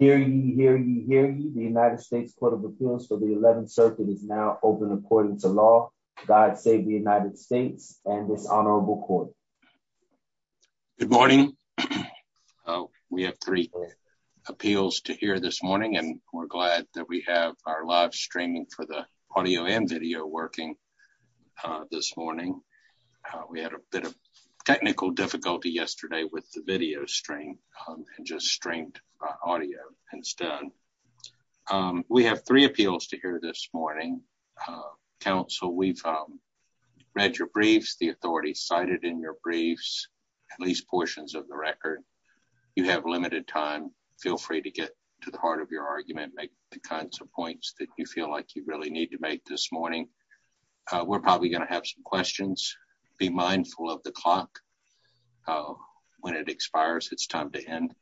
Hear ye, hear ye, hear ye. The United States Court of Appeals for the 11th Circuit is now open according to law. God save the United States and this honorable court. Good morning. We have three appeals to hear this morning and we're glad that we have our live streaming for the audio and video working this morning. We had a bit of technical difficulty yesterday with the video stream and just streamed audio and it's done. We have three appeals to hear this morning. Council, we've read your briefs, the authorities cited in your briefs, at least portions of the record. You have limited time. Feel free to get to the heart of your argument, make the kinds of points that you feel like you really need to make this morning. We're probably going to have some questions. Be mindful of the clock. When it expires, it's time to end.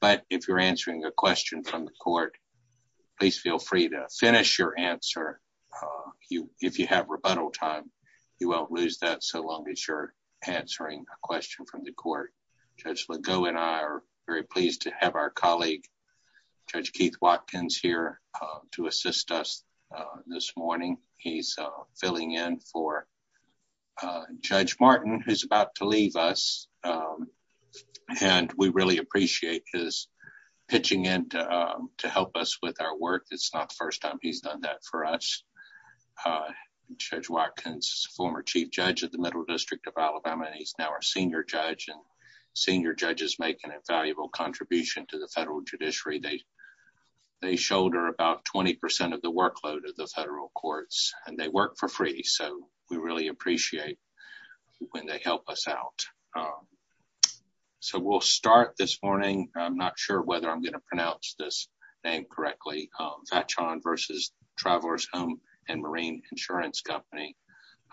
But if you're answering a question from the court, please feel free to finish your answer. If you have rebuttal time, you won't lose that so long as you're answering a question from the court. Judge Legault and I are very pleased to have our He's filling in for Judge Martin, who's about to leave us. We really appreciate his pitching in to help us with our work. It's not the first time he's done that for us. Judge Watkins, former chief judge of the Middle District of Alabama, he's now our senior judge. Senior judges make an invaluable contribution to the federal judiciary. They shoulder about 20% of the workload of the federal courts and they work for free, so we really appreciate when they help us out. We'll start this morning. I'm not sure whether I'm going to pronounce this name correctly, Vachon versus Travelers Home and Marine Insurance Company.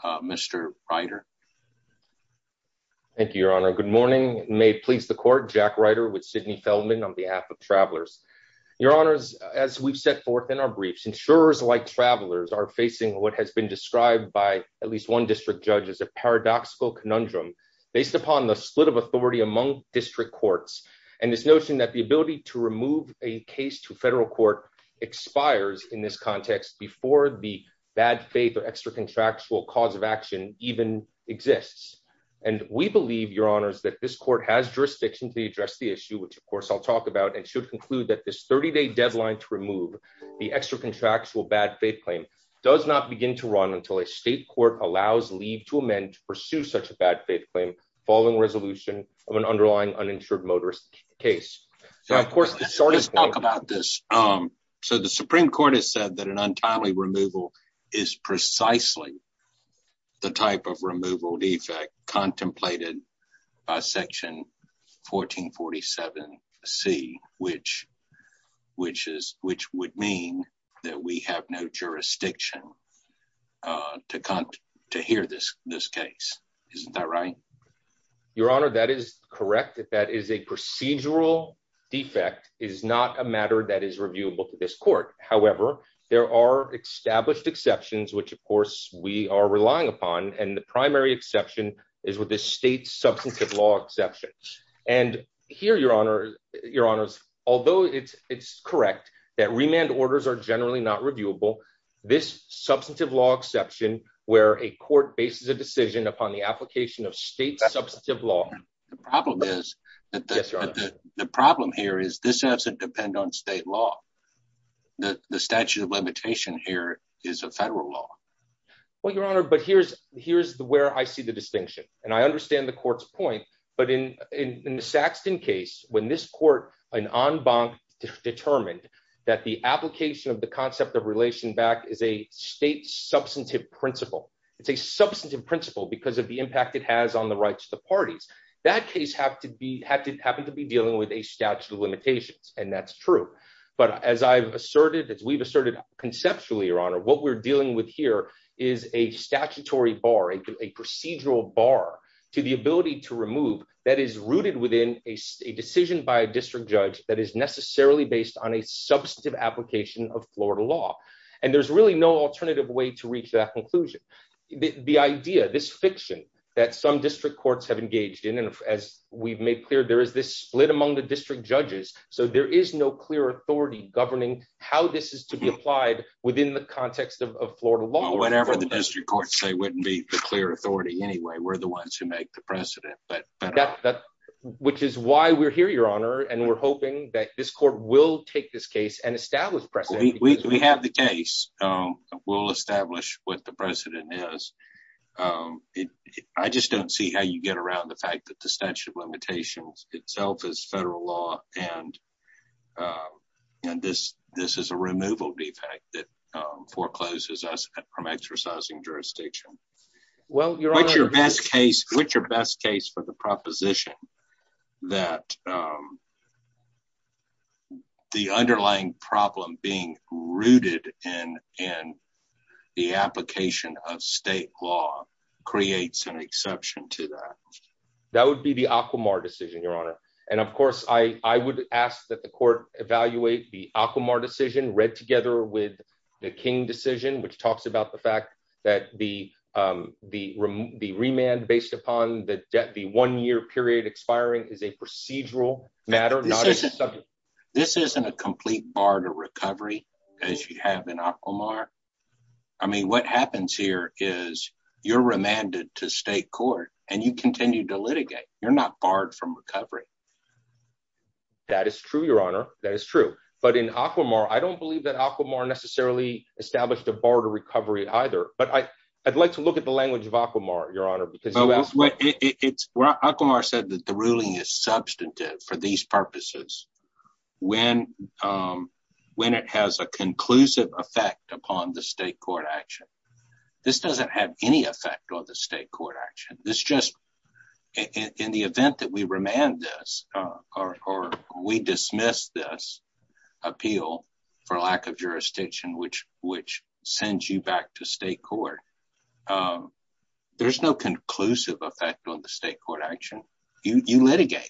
Mr. Ryder. Thank you, Your Honor. Good morning. May it please the court, Jack Ryder with Sidney Feldman on behalf of Travelers. Your Honors, as we've set forth in our briefs, insurers like Travelers are facing what has been described by at least one district judge as a paradoxical conundrum based upon the split of authority among district courts and this notion that the ability to remove a case to federal court expires in this context before the bad faith or extra contractual cause of action even exists. And we believe, Your Honors, that this court has jurisdiction to address the issue, which of course I'll talk about, and should conclude that this 30-day deadline to remove the extra contractual bad faith claim does not begin to run until a state court allows leave to amend to pursue such a bad faith claim following resolution of an underlying uninsured motorist case. Let's talk about this. So the Supreme Court has said that an untimely removal is precisely the type of removal defect contemplated by Section 1447C, which would mean that we have no jurisdiction to hear this case. Isn't that right? Your Honor, that is correct. That is a procedural defect. It is not a matter that is reviewable to this court. However, there are established exceptions, which of course we are relying upon, and the primary exception is with the state's substantive law exception. And here, Your Honors, although it's correct that remand orders are generally not reviewable, this substantive law exception where a court bases a decision upon the application of state substantive law. The problem here is this has to depend on state law. The statute of limitation here is a federal law. Well, Your Honor, but here's where I see the distinction. And I understand the court's point, but in the Saxton case, when this court, an en banc, determined that the application of the concept of relation back is a state substantive principle, it's a substantive principle because of the impact it has on the rights of the parties. That case happened to be dealing with a statute of limitations, and that's true. But as I've asserted, as we've conceptually, Your Honor, what we're dealing with here is a statutory bar, a procedural bar to the ability to remove that is rooted within a decision by a district judge that is necessarily based on a substantive application of Florida law. And there's really no alternative way to reach that conclusion. The idea, this fiction that some district courts have engaged in, and as we've made clear, there is this split among the district judges. So there is no clear authority governing how this is to be applied within the context of Florida law. Well, whatever the district courts say wouldn't be the clear authority anyway. We're the ones who make the precedent. Which is why we're here, Your Honor, and we're hoping that this court will take this case and establish precedent. We have the case. We'll establish what the precedent is. I just don't see how you get around the fact that the statute of limitations itself is federal law, and this is a removal defect that forecloses us from exercising jurisdiction. Which is your best case for the proposition that the underlying problem being rooted in the application of state law creates an exception to that. That would be the Aquamar decision, Your Honor. And of course, I would ask that the court evaluate the Aquamar decision read together with the King decision, which talks about the fact that the remand based upon the debt, the one year period expiring is a procedural matter. This isn't a complete bar to recovery as you have in Aquamar. I mean, what happens here is you're remanded to state court, and you continue to litigate. You're not barred from recovery. That is true, Your Honor. That is true. But in Aquamar, I don't believe that Aquamar necessarily established a bar to recovery either. But I'd like to look at the language of Aquamar, Your Honor. Aquamar said that the ruling is substantive for these purposes when it has a conclusive effect upon the state court action. This doesn't have any effect on the state court action. In the event that we remand this, or we dismiss this appeal for lack of jurisdiction, which sends you back to state court, there's no conclusive effect on the state court action. You litigate.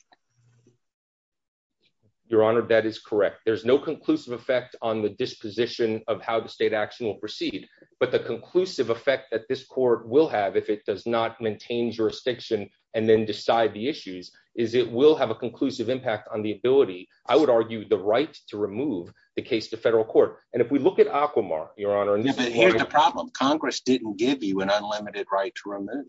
Your Honor, that is correct. There's no conclusive effect on the disposition of how the state action will proceed. But the conclusive effect that this court will have if it does not maintain jurisdiction and then decide the issues is it will have a conclusive impact on the ability, I would argue, the right to remove the case to federal court. And if we look at Aquamar, Your Honor. Here's the problem. Congress didn't give you an unlimited right to remove.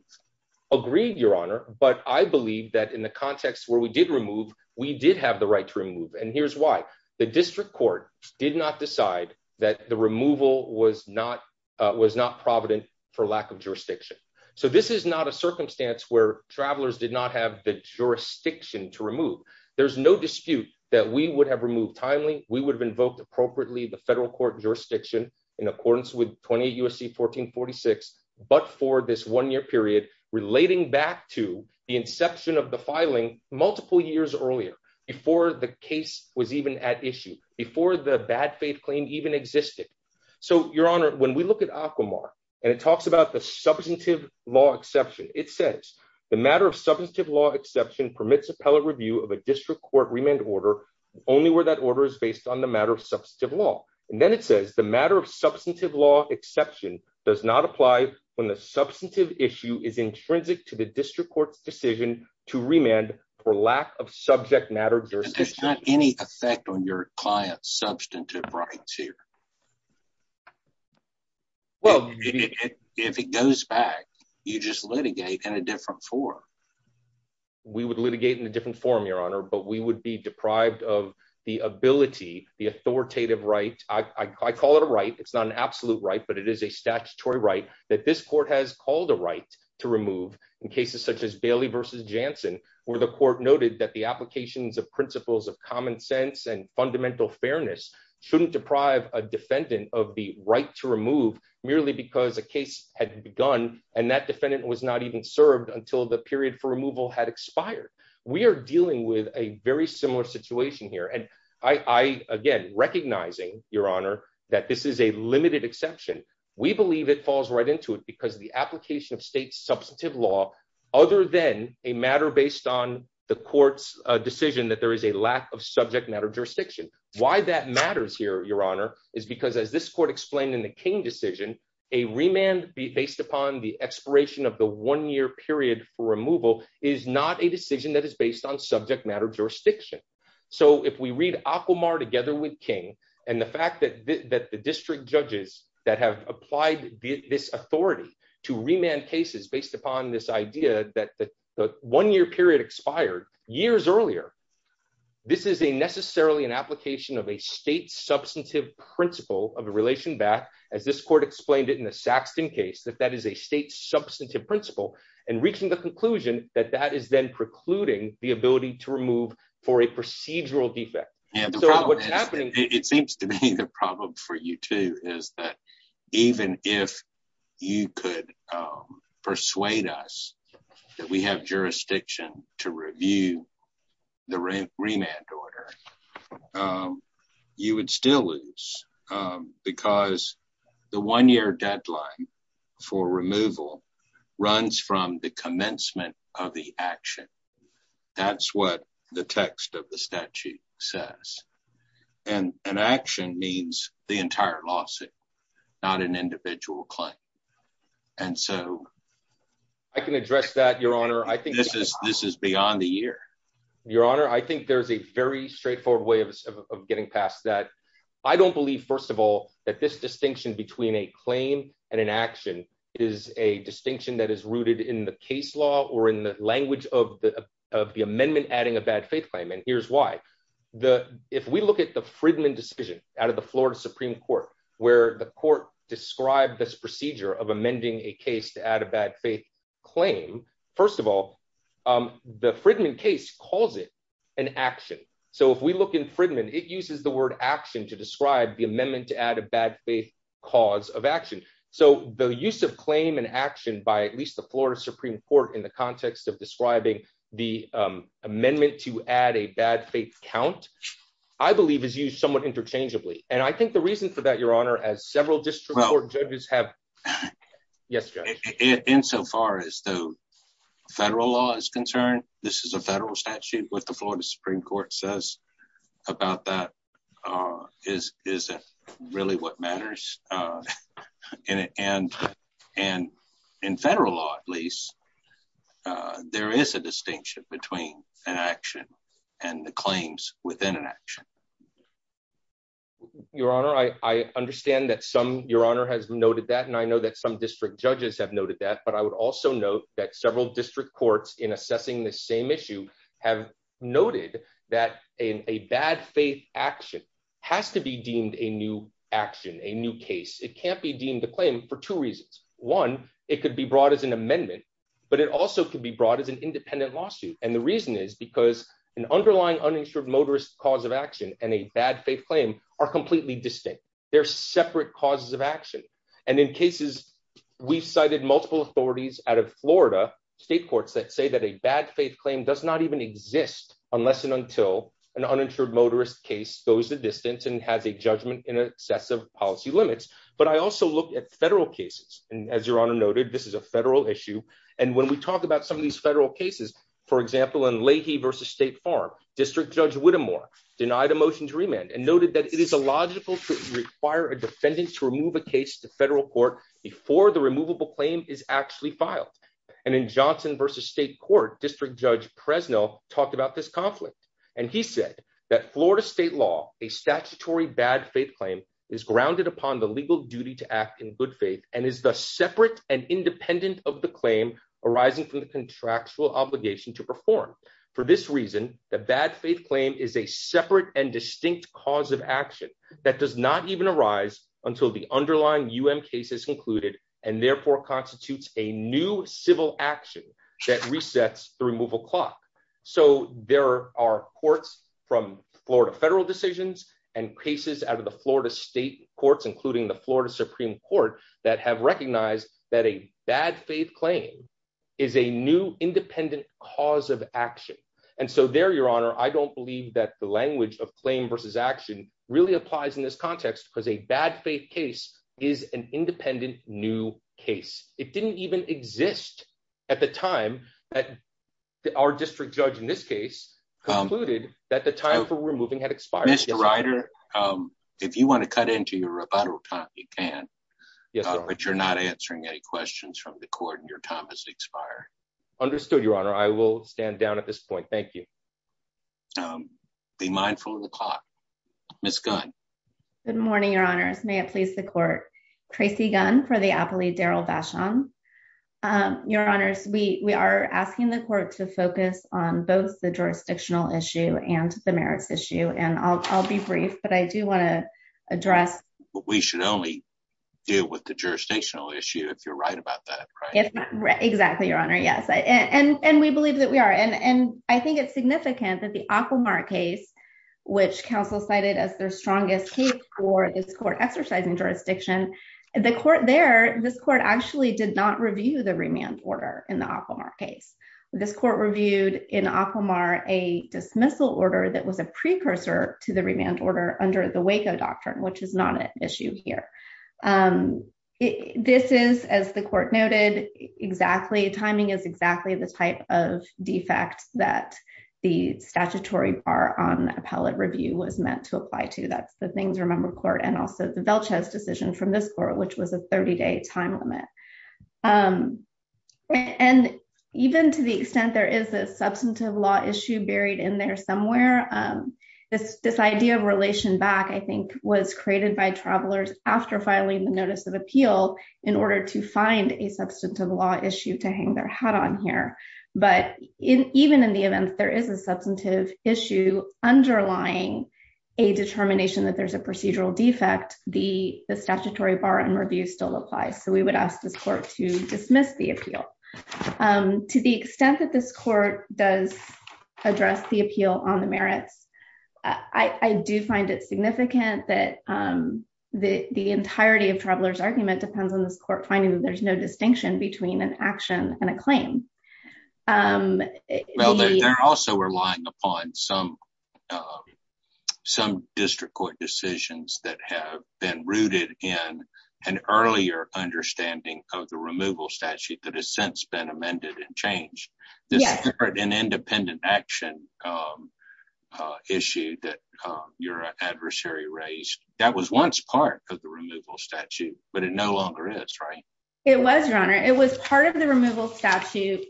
Agreed, Your Honor. But I believe that in the context where we did remove, we did have the right to remove. And here's why. The district court did not decide that the removal was not provident for lack of jurisdiction. So this is not a circumstance where travelers did not have the jurisdiction to remove. There's no dispute that we would have removed timely. We would have invoked appropriately the federal court jurisdiction in accordance with 28 U.S.C. 1446, but for this one-year period relating back to the inception of the filing multiple years earlier, before the case was even at issue, before the bad faith claim even existed. So, Your Honor, when we look at Aquamar and it talks about the substantive law exception, it says the matter of substantive law exception permits appellate review of a district court remand order only where that order is based on the matter of substantive law. And then it says the matter substantive law exception does not apply when the substantive issue is intrinsic to the district court's decision to remand for lack of subject matter jurisdiction. There's not any effect on your client's substantive rights here? Well, if it goes back, you just litigate in a different form. We would litigate in a different form, Your Honor, but we would be deprived of the ability, the authoritative right. I call it a right. It's not an absolute right, but it is a statutory right that this court has called a right to remove in cases such as Bailey versus Jansen, where the court noted that the applications of principles of common sense and fundamental fairness shouldn't deprive a defendant of the right to remove merely because a case had begun and that defendant was not even served until the period for removal had expired. We are dealing with a very similar situation here. And I, again, recognizing, Your Honor, that this is a limited exception. We believe it falls right into it because the application of state substantive law, other than a matter based on the court's decision that there is a lack of subject matter jurisdiction. Why that matters here, Your Honor, is because as this court explained in the King decision, a remand based upon the expiration of the one year period for removal is not a decision that is based on subject matter jurisdiction. So if we read Aquamar together with King and the fact that the district judges that have applied this authority to remand cases based upon this idea that the one year period expired years earlier, this is a necessarily an application of a state substantive principle of a relation back, as this court explained it in the Saxton case, that that is a state substantive principle and reaching the conclusion that that is then precluding the ability to remove for a procedural defect. And so what's happening, it seems to be the problem for you too is that even if you could persuade us that we have jurisdiction to review the remand order, you would still lose because the one year deadline for removal runs from the commencement of the action. That's what the text of the statute says. And an action means the entire lawsuit, not an individual claim. And so I can address that, this is beyond the year. Your honor, I think there's a very straightforward way of getting past that. I don't believe, first of all, that this distinction between a claim and an action is a distinction that is rooted in the case law or in the language of the amendment adding a bad faith claim. And here's why. If we look at the Fridman decision out of the Florida Supreme Court, where the court described this procedure of amending a case to add a bad faith claim, first of all, the Fridman case calls it an action. So if we look in Fridman, it uses the word action to describe the amendment to add a bad faith cause of action. So the use of claim and action by at least the Florida Supreme Court in the context of describing the amendment to add a bad faith count, I believe is used somewhat interchangeably. And I think the reason for that, your honor, as several district court judges have... Yes, Judge. Insofar as the federal law is concerned, this is a federal statute. What the Florida Supreme Court says about that is really what matters. And in federal law, at least, there is a distinction between an action and the claims within an action. Your honor, I understand that some... Your honor has noted that, and I know that some district judges have noted that, but I would also note that several district courts in assessing the same issue have noted that a bad faith action has to be deemed a new action, a new case. It can't be deemed a claim for two reasons. One, it could be brought as an amendment, but it also could be brought as an independent lawsuit. And the reason is because an underlying uninsured motorist cause of action and a bad faith claim are completely distinct. They're separate causes of action. And in cases, we've cited multiple authorities out of Florida, state courts that say that a bad faith claim does not even exist unless and until an uninsured motorist case goes the distance and has a judgment in excessive policy limits. But I also look at federal cases. And as your honor noted, this is a federal issue. And when we talk about some of these federal cases, for example, in Leahy versus State Farm, District Judge Whittemore denied a motion to remand and noted that it is illogical to require a defendant to remove a case to federal court before the removable claim is actually filed. And in Johnson versus State Court, District Judge Presnell talked about this conflict. And he said that Florida state law, a statutory bad faith claim is grounded upon the legal duty to act in good faith and is the separate and independent of the claim arising from the contractual obligation to perform. For this reason, the bad faith claim is a separate and distinct cause of action that does not even arise until the underlying UM case is included and therefore constitutes a new civil action that resets the removal clock. So there are courts from Florida federal decisions and cases out of the Florida state courts, including the Florida Supreme Court, that have recognized that a bad faith claim is a new independent cause of action. And so there, your honor, I don't believe that the language of claim versus action really applies in this context, because a bad faith case is an independent new case. It didn't even exist at the time that our district judge in this case concluded that the time for removing had expired. Mr. Ryder, if you want to cut into your rebuttal time, you can, but you're not answering any questions from the court and your time has expired. Understood, your honor. I will stand down at this Good morning, your honors. May it please the court. Tracy Gunn for the appellee, Daryl Basham. Your honors, we are asking the court to focus on both the jurisdictional issue and the merits issue. And I'll be brief, but I do want to address what we should only do with the jurisdictional issue, if you're right about that. Exactly, your honor. Yes. And we believe that we are. And I cited as their strongest case for this court exercising jurisdiction. The court there, this court actually did not review the remand order in the Acomar case. This court reviewed in Acomar a dismissal order that was a precursor to the remand order under the Waco doctrine, which is not an issue here. This is, as the court noted, exactly timing is the type of defect that the statutory bar on appellate review was meant to apply to. That's the things remember court and also the Velchez decision from this court, which was a 30 day time limit. And even to the extent there is a substantive law issue buried in there somewhere, this, this idea of relation back, I think was created by travelers after filing the notice of appeal in order to find a substantive law issue to hang their hat on here. But even in the event, there is a substantive issue underlying a determination that there's a procedural defect, the statutory bar and review still applies. So we would ask this court to dismiss the appeal to the extent that this court does address the appeal on the merits. I do find it significant that the entirety of travelers argument depends on this court finding that there's no distinction between an action and a claim. They're also relying upon some, some district court decisions that have been rooted in an earlier understanding of the removal statute that has since been amended and changed. This separate and independent action issue that your adversary raised that was once part of the removal statute, but it no longer is right. It was your honor, it was part of the removal statute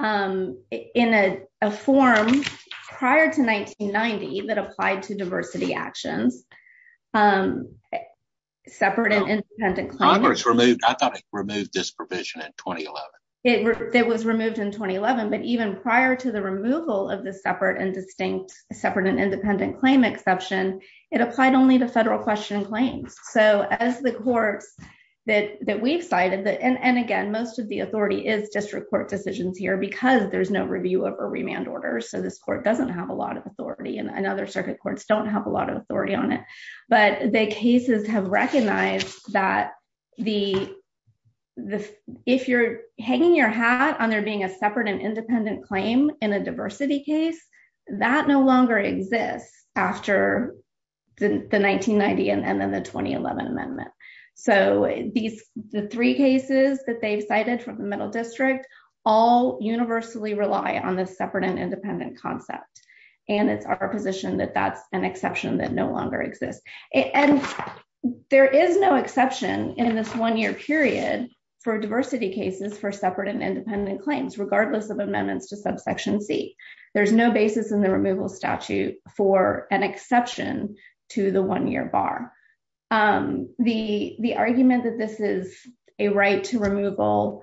in a form prior to 1990 that applied to diversity actions. Separate and independent. It was removed in 2011, but even prior to the removal of the separate and distinct separate and independent claim exception, it applied only to federal question claims. So as the courts that we've cited, and again, most of the authority is district court decisions here because there's no review of a remand order. So this court doesn't have a lot of authority and other circuit courts don't have a lot of authority on it, but the cases have recognized that the, the, if you're hanging your hat on there being a separate and independent claim in a diversity case, that no longer exists after the 1990 and then the 2011 amendment. So these, the three cases that they've cited from the middle district all universally rely on this separate and independent concept. And it's our position that that's an exception that no longer exists. And there is no exception in this one-year period for diversity cases for separate and independent claims, regardless of amendments to subsection C. There's no basis in the removal statute for an exception to the one-year bar. The, the argument that this is a right to removal,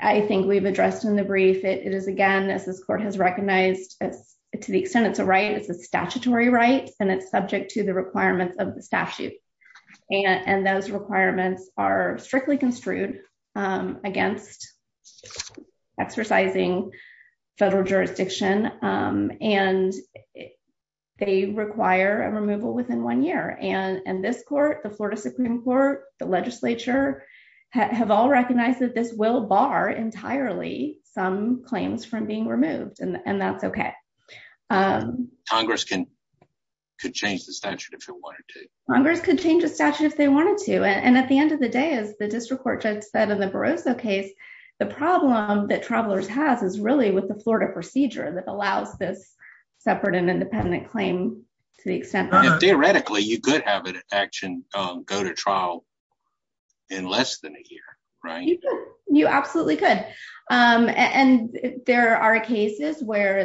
I think we've addressed in the brief. It is, again, as this court has recognized to the extent it's a right, it's a statutory right, and it's subject to the requirements of the statute. And those requirements are strictly construed against exercising federal jurisdiction. And they require a removal within one year. And this court, the Florida Supreme court, the legislature have all recognized that this will bar entirely some claims from being removed. Congress can, could change the statute if it wanted to. Congress could change the statute if they wanted to. And at the end of the day, as the district court judge said in the Barroso case, the problem that Travelers has is really with the Florida procedure that allows this separate and independent claim to the extent. Theoretically, you could have an action go to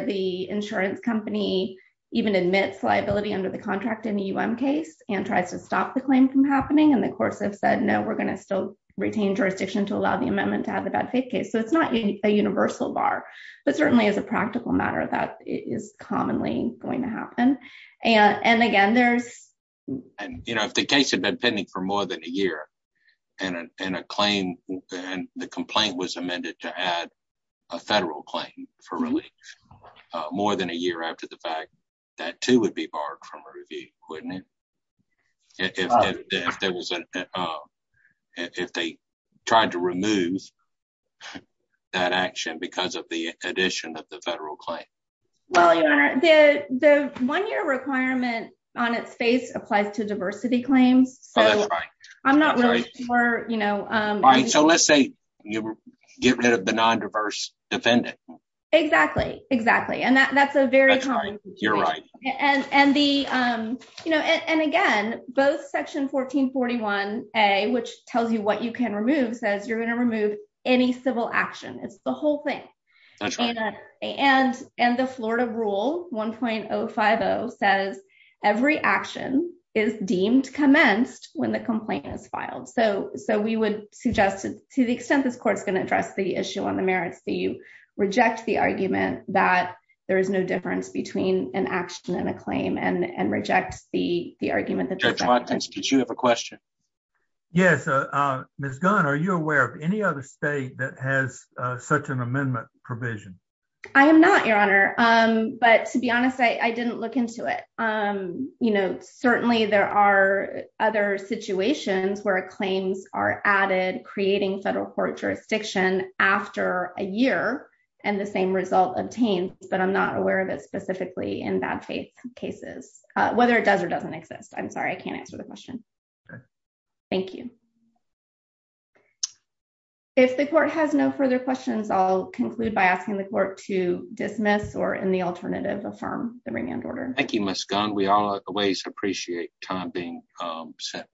the insurance company, even admits liability under the contract in the UM case and tries to stop the claim from happening. And the courts have said, no, we're going to still retain jurisdiction to allow the amendment to have the bad faith case. So it's not a universal bar, but certainly as a practical matter, that is commonly going to happen. And, and again, there's. And, you know, if the case had been pending for more than a year and a claim and the complaint was amended to add a federal claim for relief, uh, more than a year after the fact that too, would be barred from a review. Wouldn't it? If there was, uh, if they tried to remove that action because of the addition of the federal claim. The one year requirement on its face applies to diversity claims. So I'm not really sure, so let's say you get rid of the non-diverse defendant. Exactly. Exactly. And that that's a very, you're right. And, and the, um, you know, and, and again, both section 1441 a, which tells you what you can remove says you're going to remove any civil action. It's the whole thing. And, and, and the Florida rule 1.0 5 0 says every action is deemed commenced when the complaint is filed. So, so we would suggest to the extent this court's going to address the issue on the merits that you reject the argument that there is no difference between an action and a claim and reject the argument that you have a question. Yes. Uh, uh, Ms. Gunn, are you aware of any other state that has such an amendment provision? I am not your honor. Um, but to be where claims are added, creating federal court jurisdiction after a year and the same result obtained, but I'm not aware of it specifically in bad faith cases, uh, whether it does or doesn't exist. I'm sorry. I can't answer the question. Thank you. If the court has no further questions, I'll conclude by asking the court to dismiss or in the alternative, affirm the remand order. Thank you, Ms. Gunn. We always appreciate time being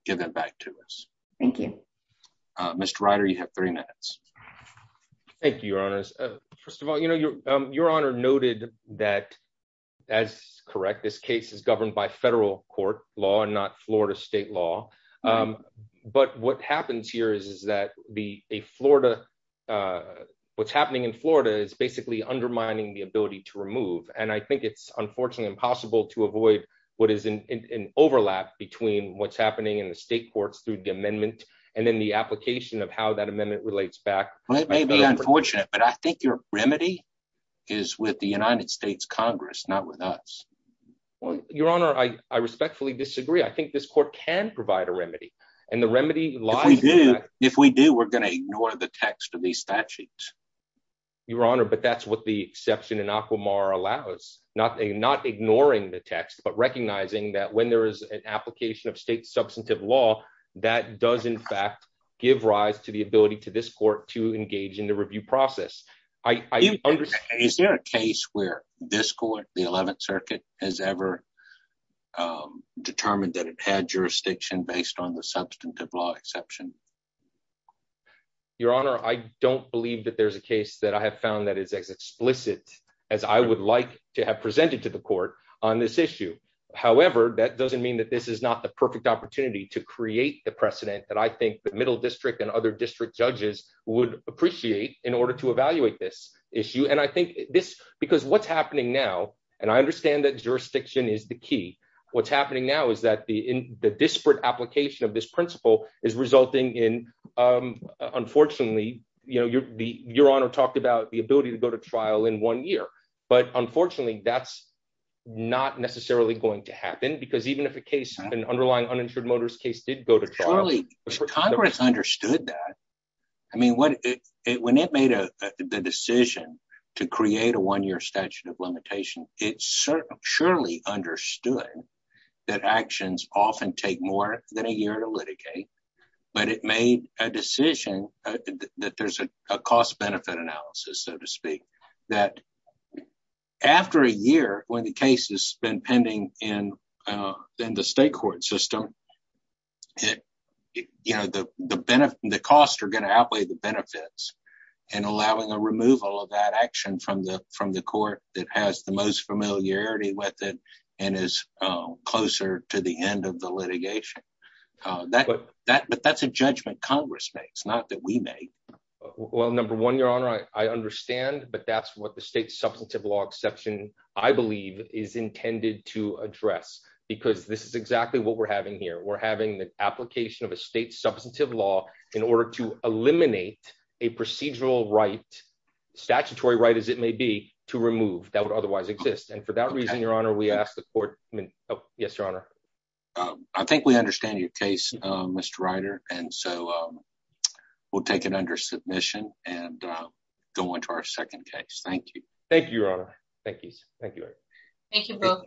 given back to us. Thank you, Mr. Ryder. You have three minutes. Thank you, your honors. First of all, you know, your, your honor noted that as correct, this case is governed by federal court law and not Florida state law. Um, but what happens here is, is that the, a Florida, uh, what's happening in Florida is basically undermining the ability to remove. And I think it's unfortunately impossible to avoid what is an overlap between what's happening in the state courts through the amendment and then the application of how that amendment relates back. It may be unfortunate, but I think your remedy is with the United States Congress, not with us. Well, your honor, I respectfully disagree. I think this court can provide a remedy and the remedy. If we do, we're going to ignore the text of these statutes, your honor. But that's what the exception in Aquamar allows, not a, not ignoring the text, but recognizing that when there is an application of state substantive law, that does in fact give rise to the ability to this court to engage in the review process. I understand. Is there a case where this court, the 11th circuit has ever, um, determined that it had jurisdiction based on the substantive law exception? Your honor. I don't believe that there's a case that I have found that is as explicit as I would like to have presented to the court on this issue. However, that doesn't mean that this is not the perfect opportunity to create the precedent that I think the middle district and other district judges would appreciate in order to evaluate this issue. And I think this, because what's happening now, and I understand that jurisdiction is the key what's happening now is that the, in the disparate application of this principle is resulting in, um, unfortunately, you know, your, the, your honor talked about the ability to go to trial in one year, but unfortunately that's not necessarily going to happen because even if a case, an underlying uninsured motorist case did go to trial, Congress understood that. I mean, what it, when it made a decision to create a one year statute of limitation, it certainly, surely understood that actions often take more than a year to litigate, but it made a decision that there's a cost benefit analysis, so to speak, that after a year, when the case has been pending in, uh, in the state court system, it, you know, the, the benefit, the costs are going to outweigh the benefits and allowing a removal of that action from the, from the court that has the most familiarity with it and is closer to the end of the litigation. Uh, that, that, but that's a judgment Congress makes not that we may. Well, number one, your honor, I understand, but that's what the state substantive law exception, I believe is intended to address, because this is exactly what we're having here. We're having the application of a state substantive law in order to eliminate a procedural right, statutory right, as it may be to remove that would otherwise exist. And for that reason, your honor, we asked the court. Oh yes, your honor. Um, I think we understand your case, uh, Mr. Ryder. And so, um, we'll take it under submission and, uh, go into our second case. Thank you. Thank you, your honor. Thank you. Thank you. Thank you both.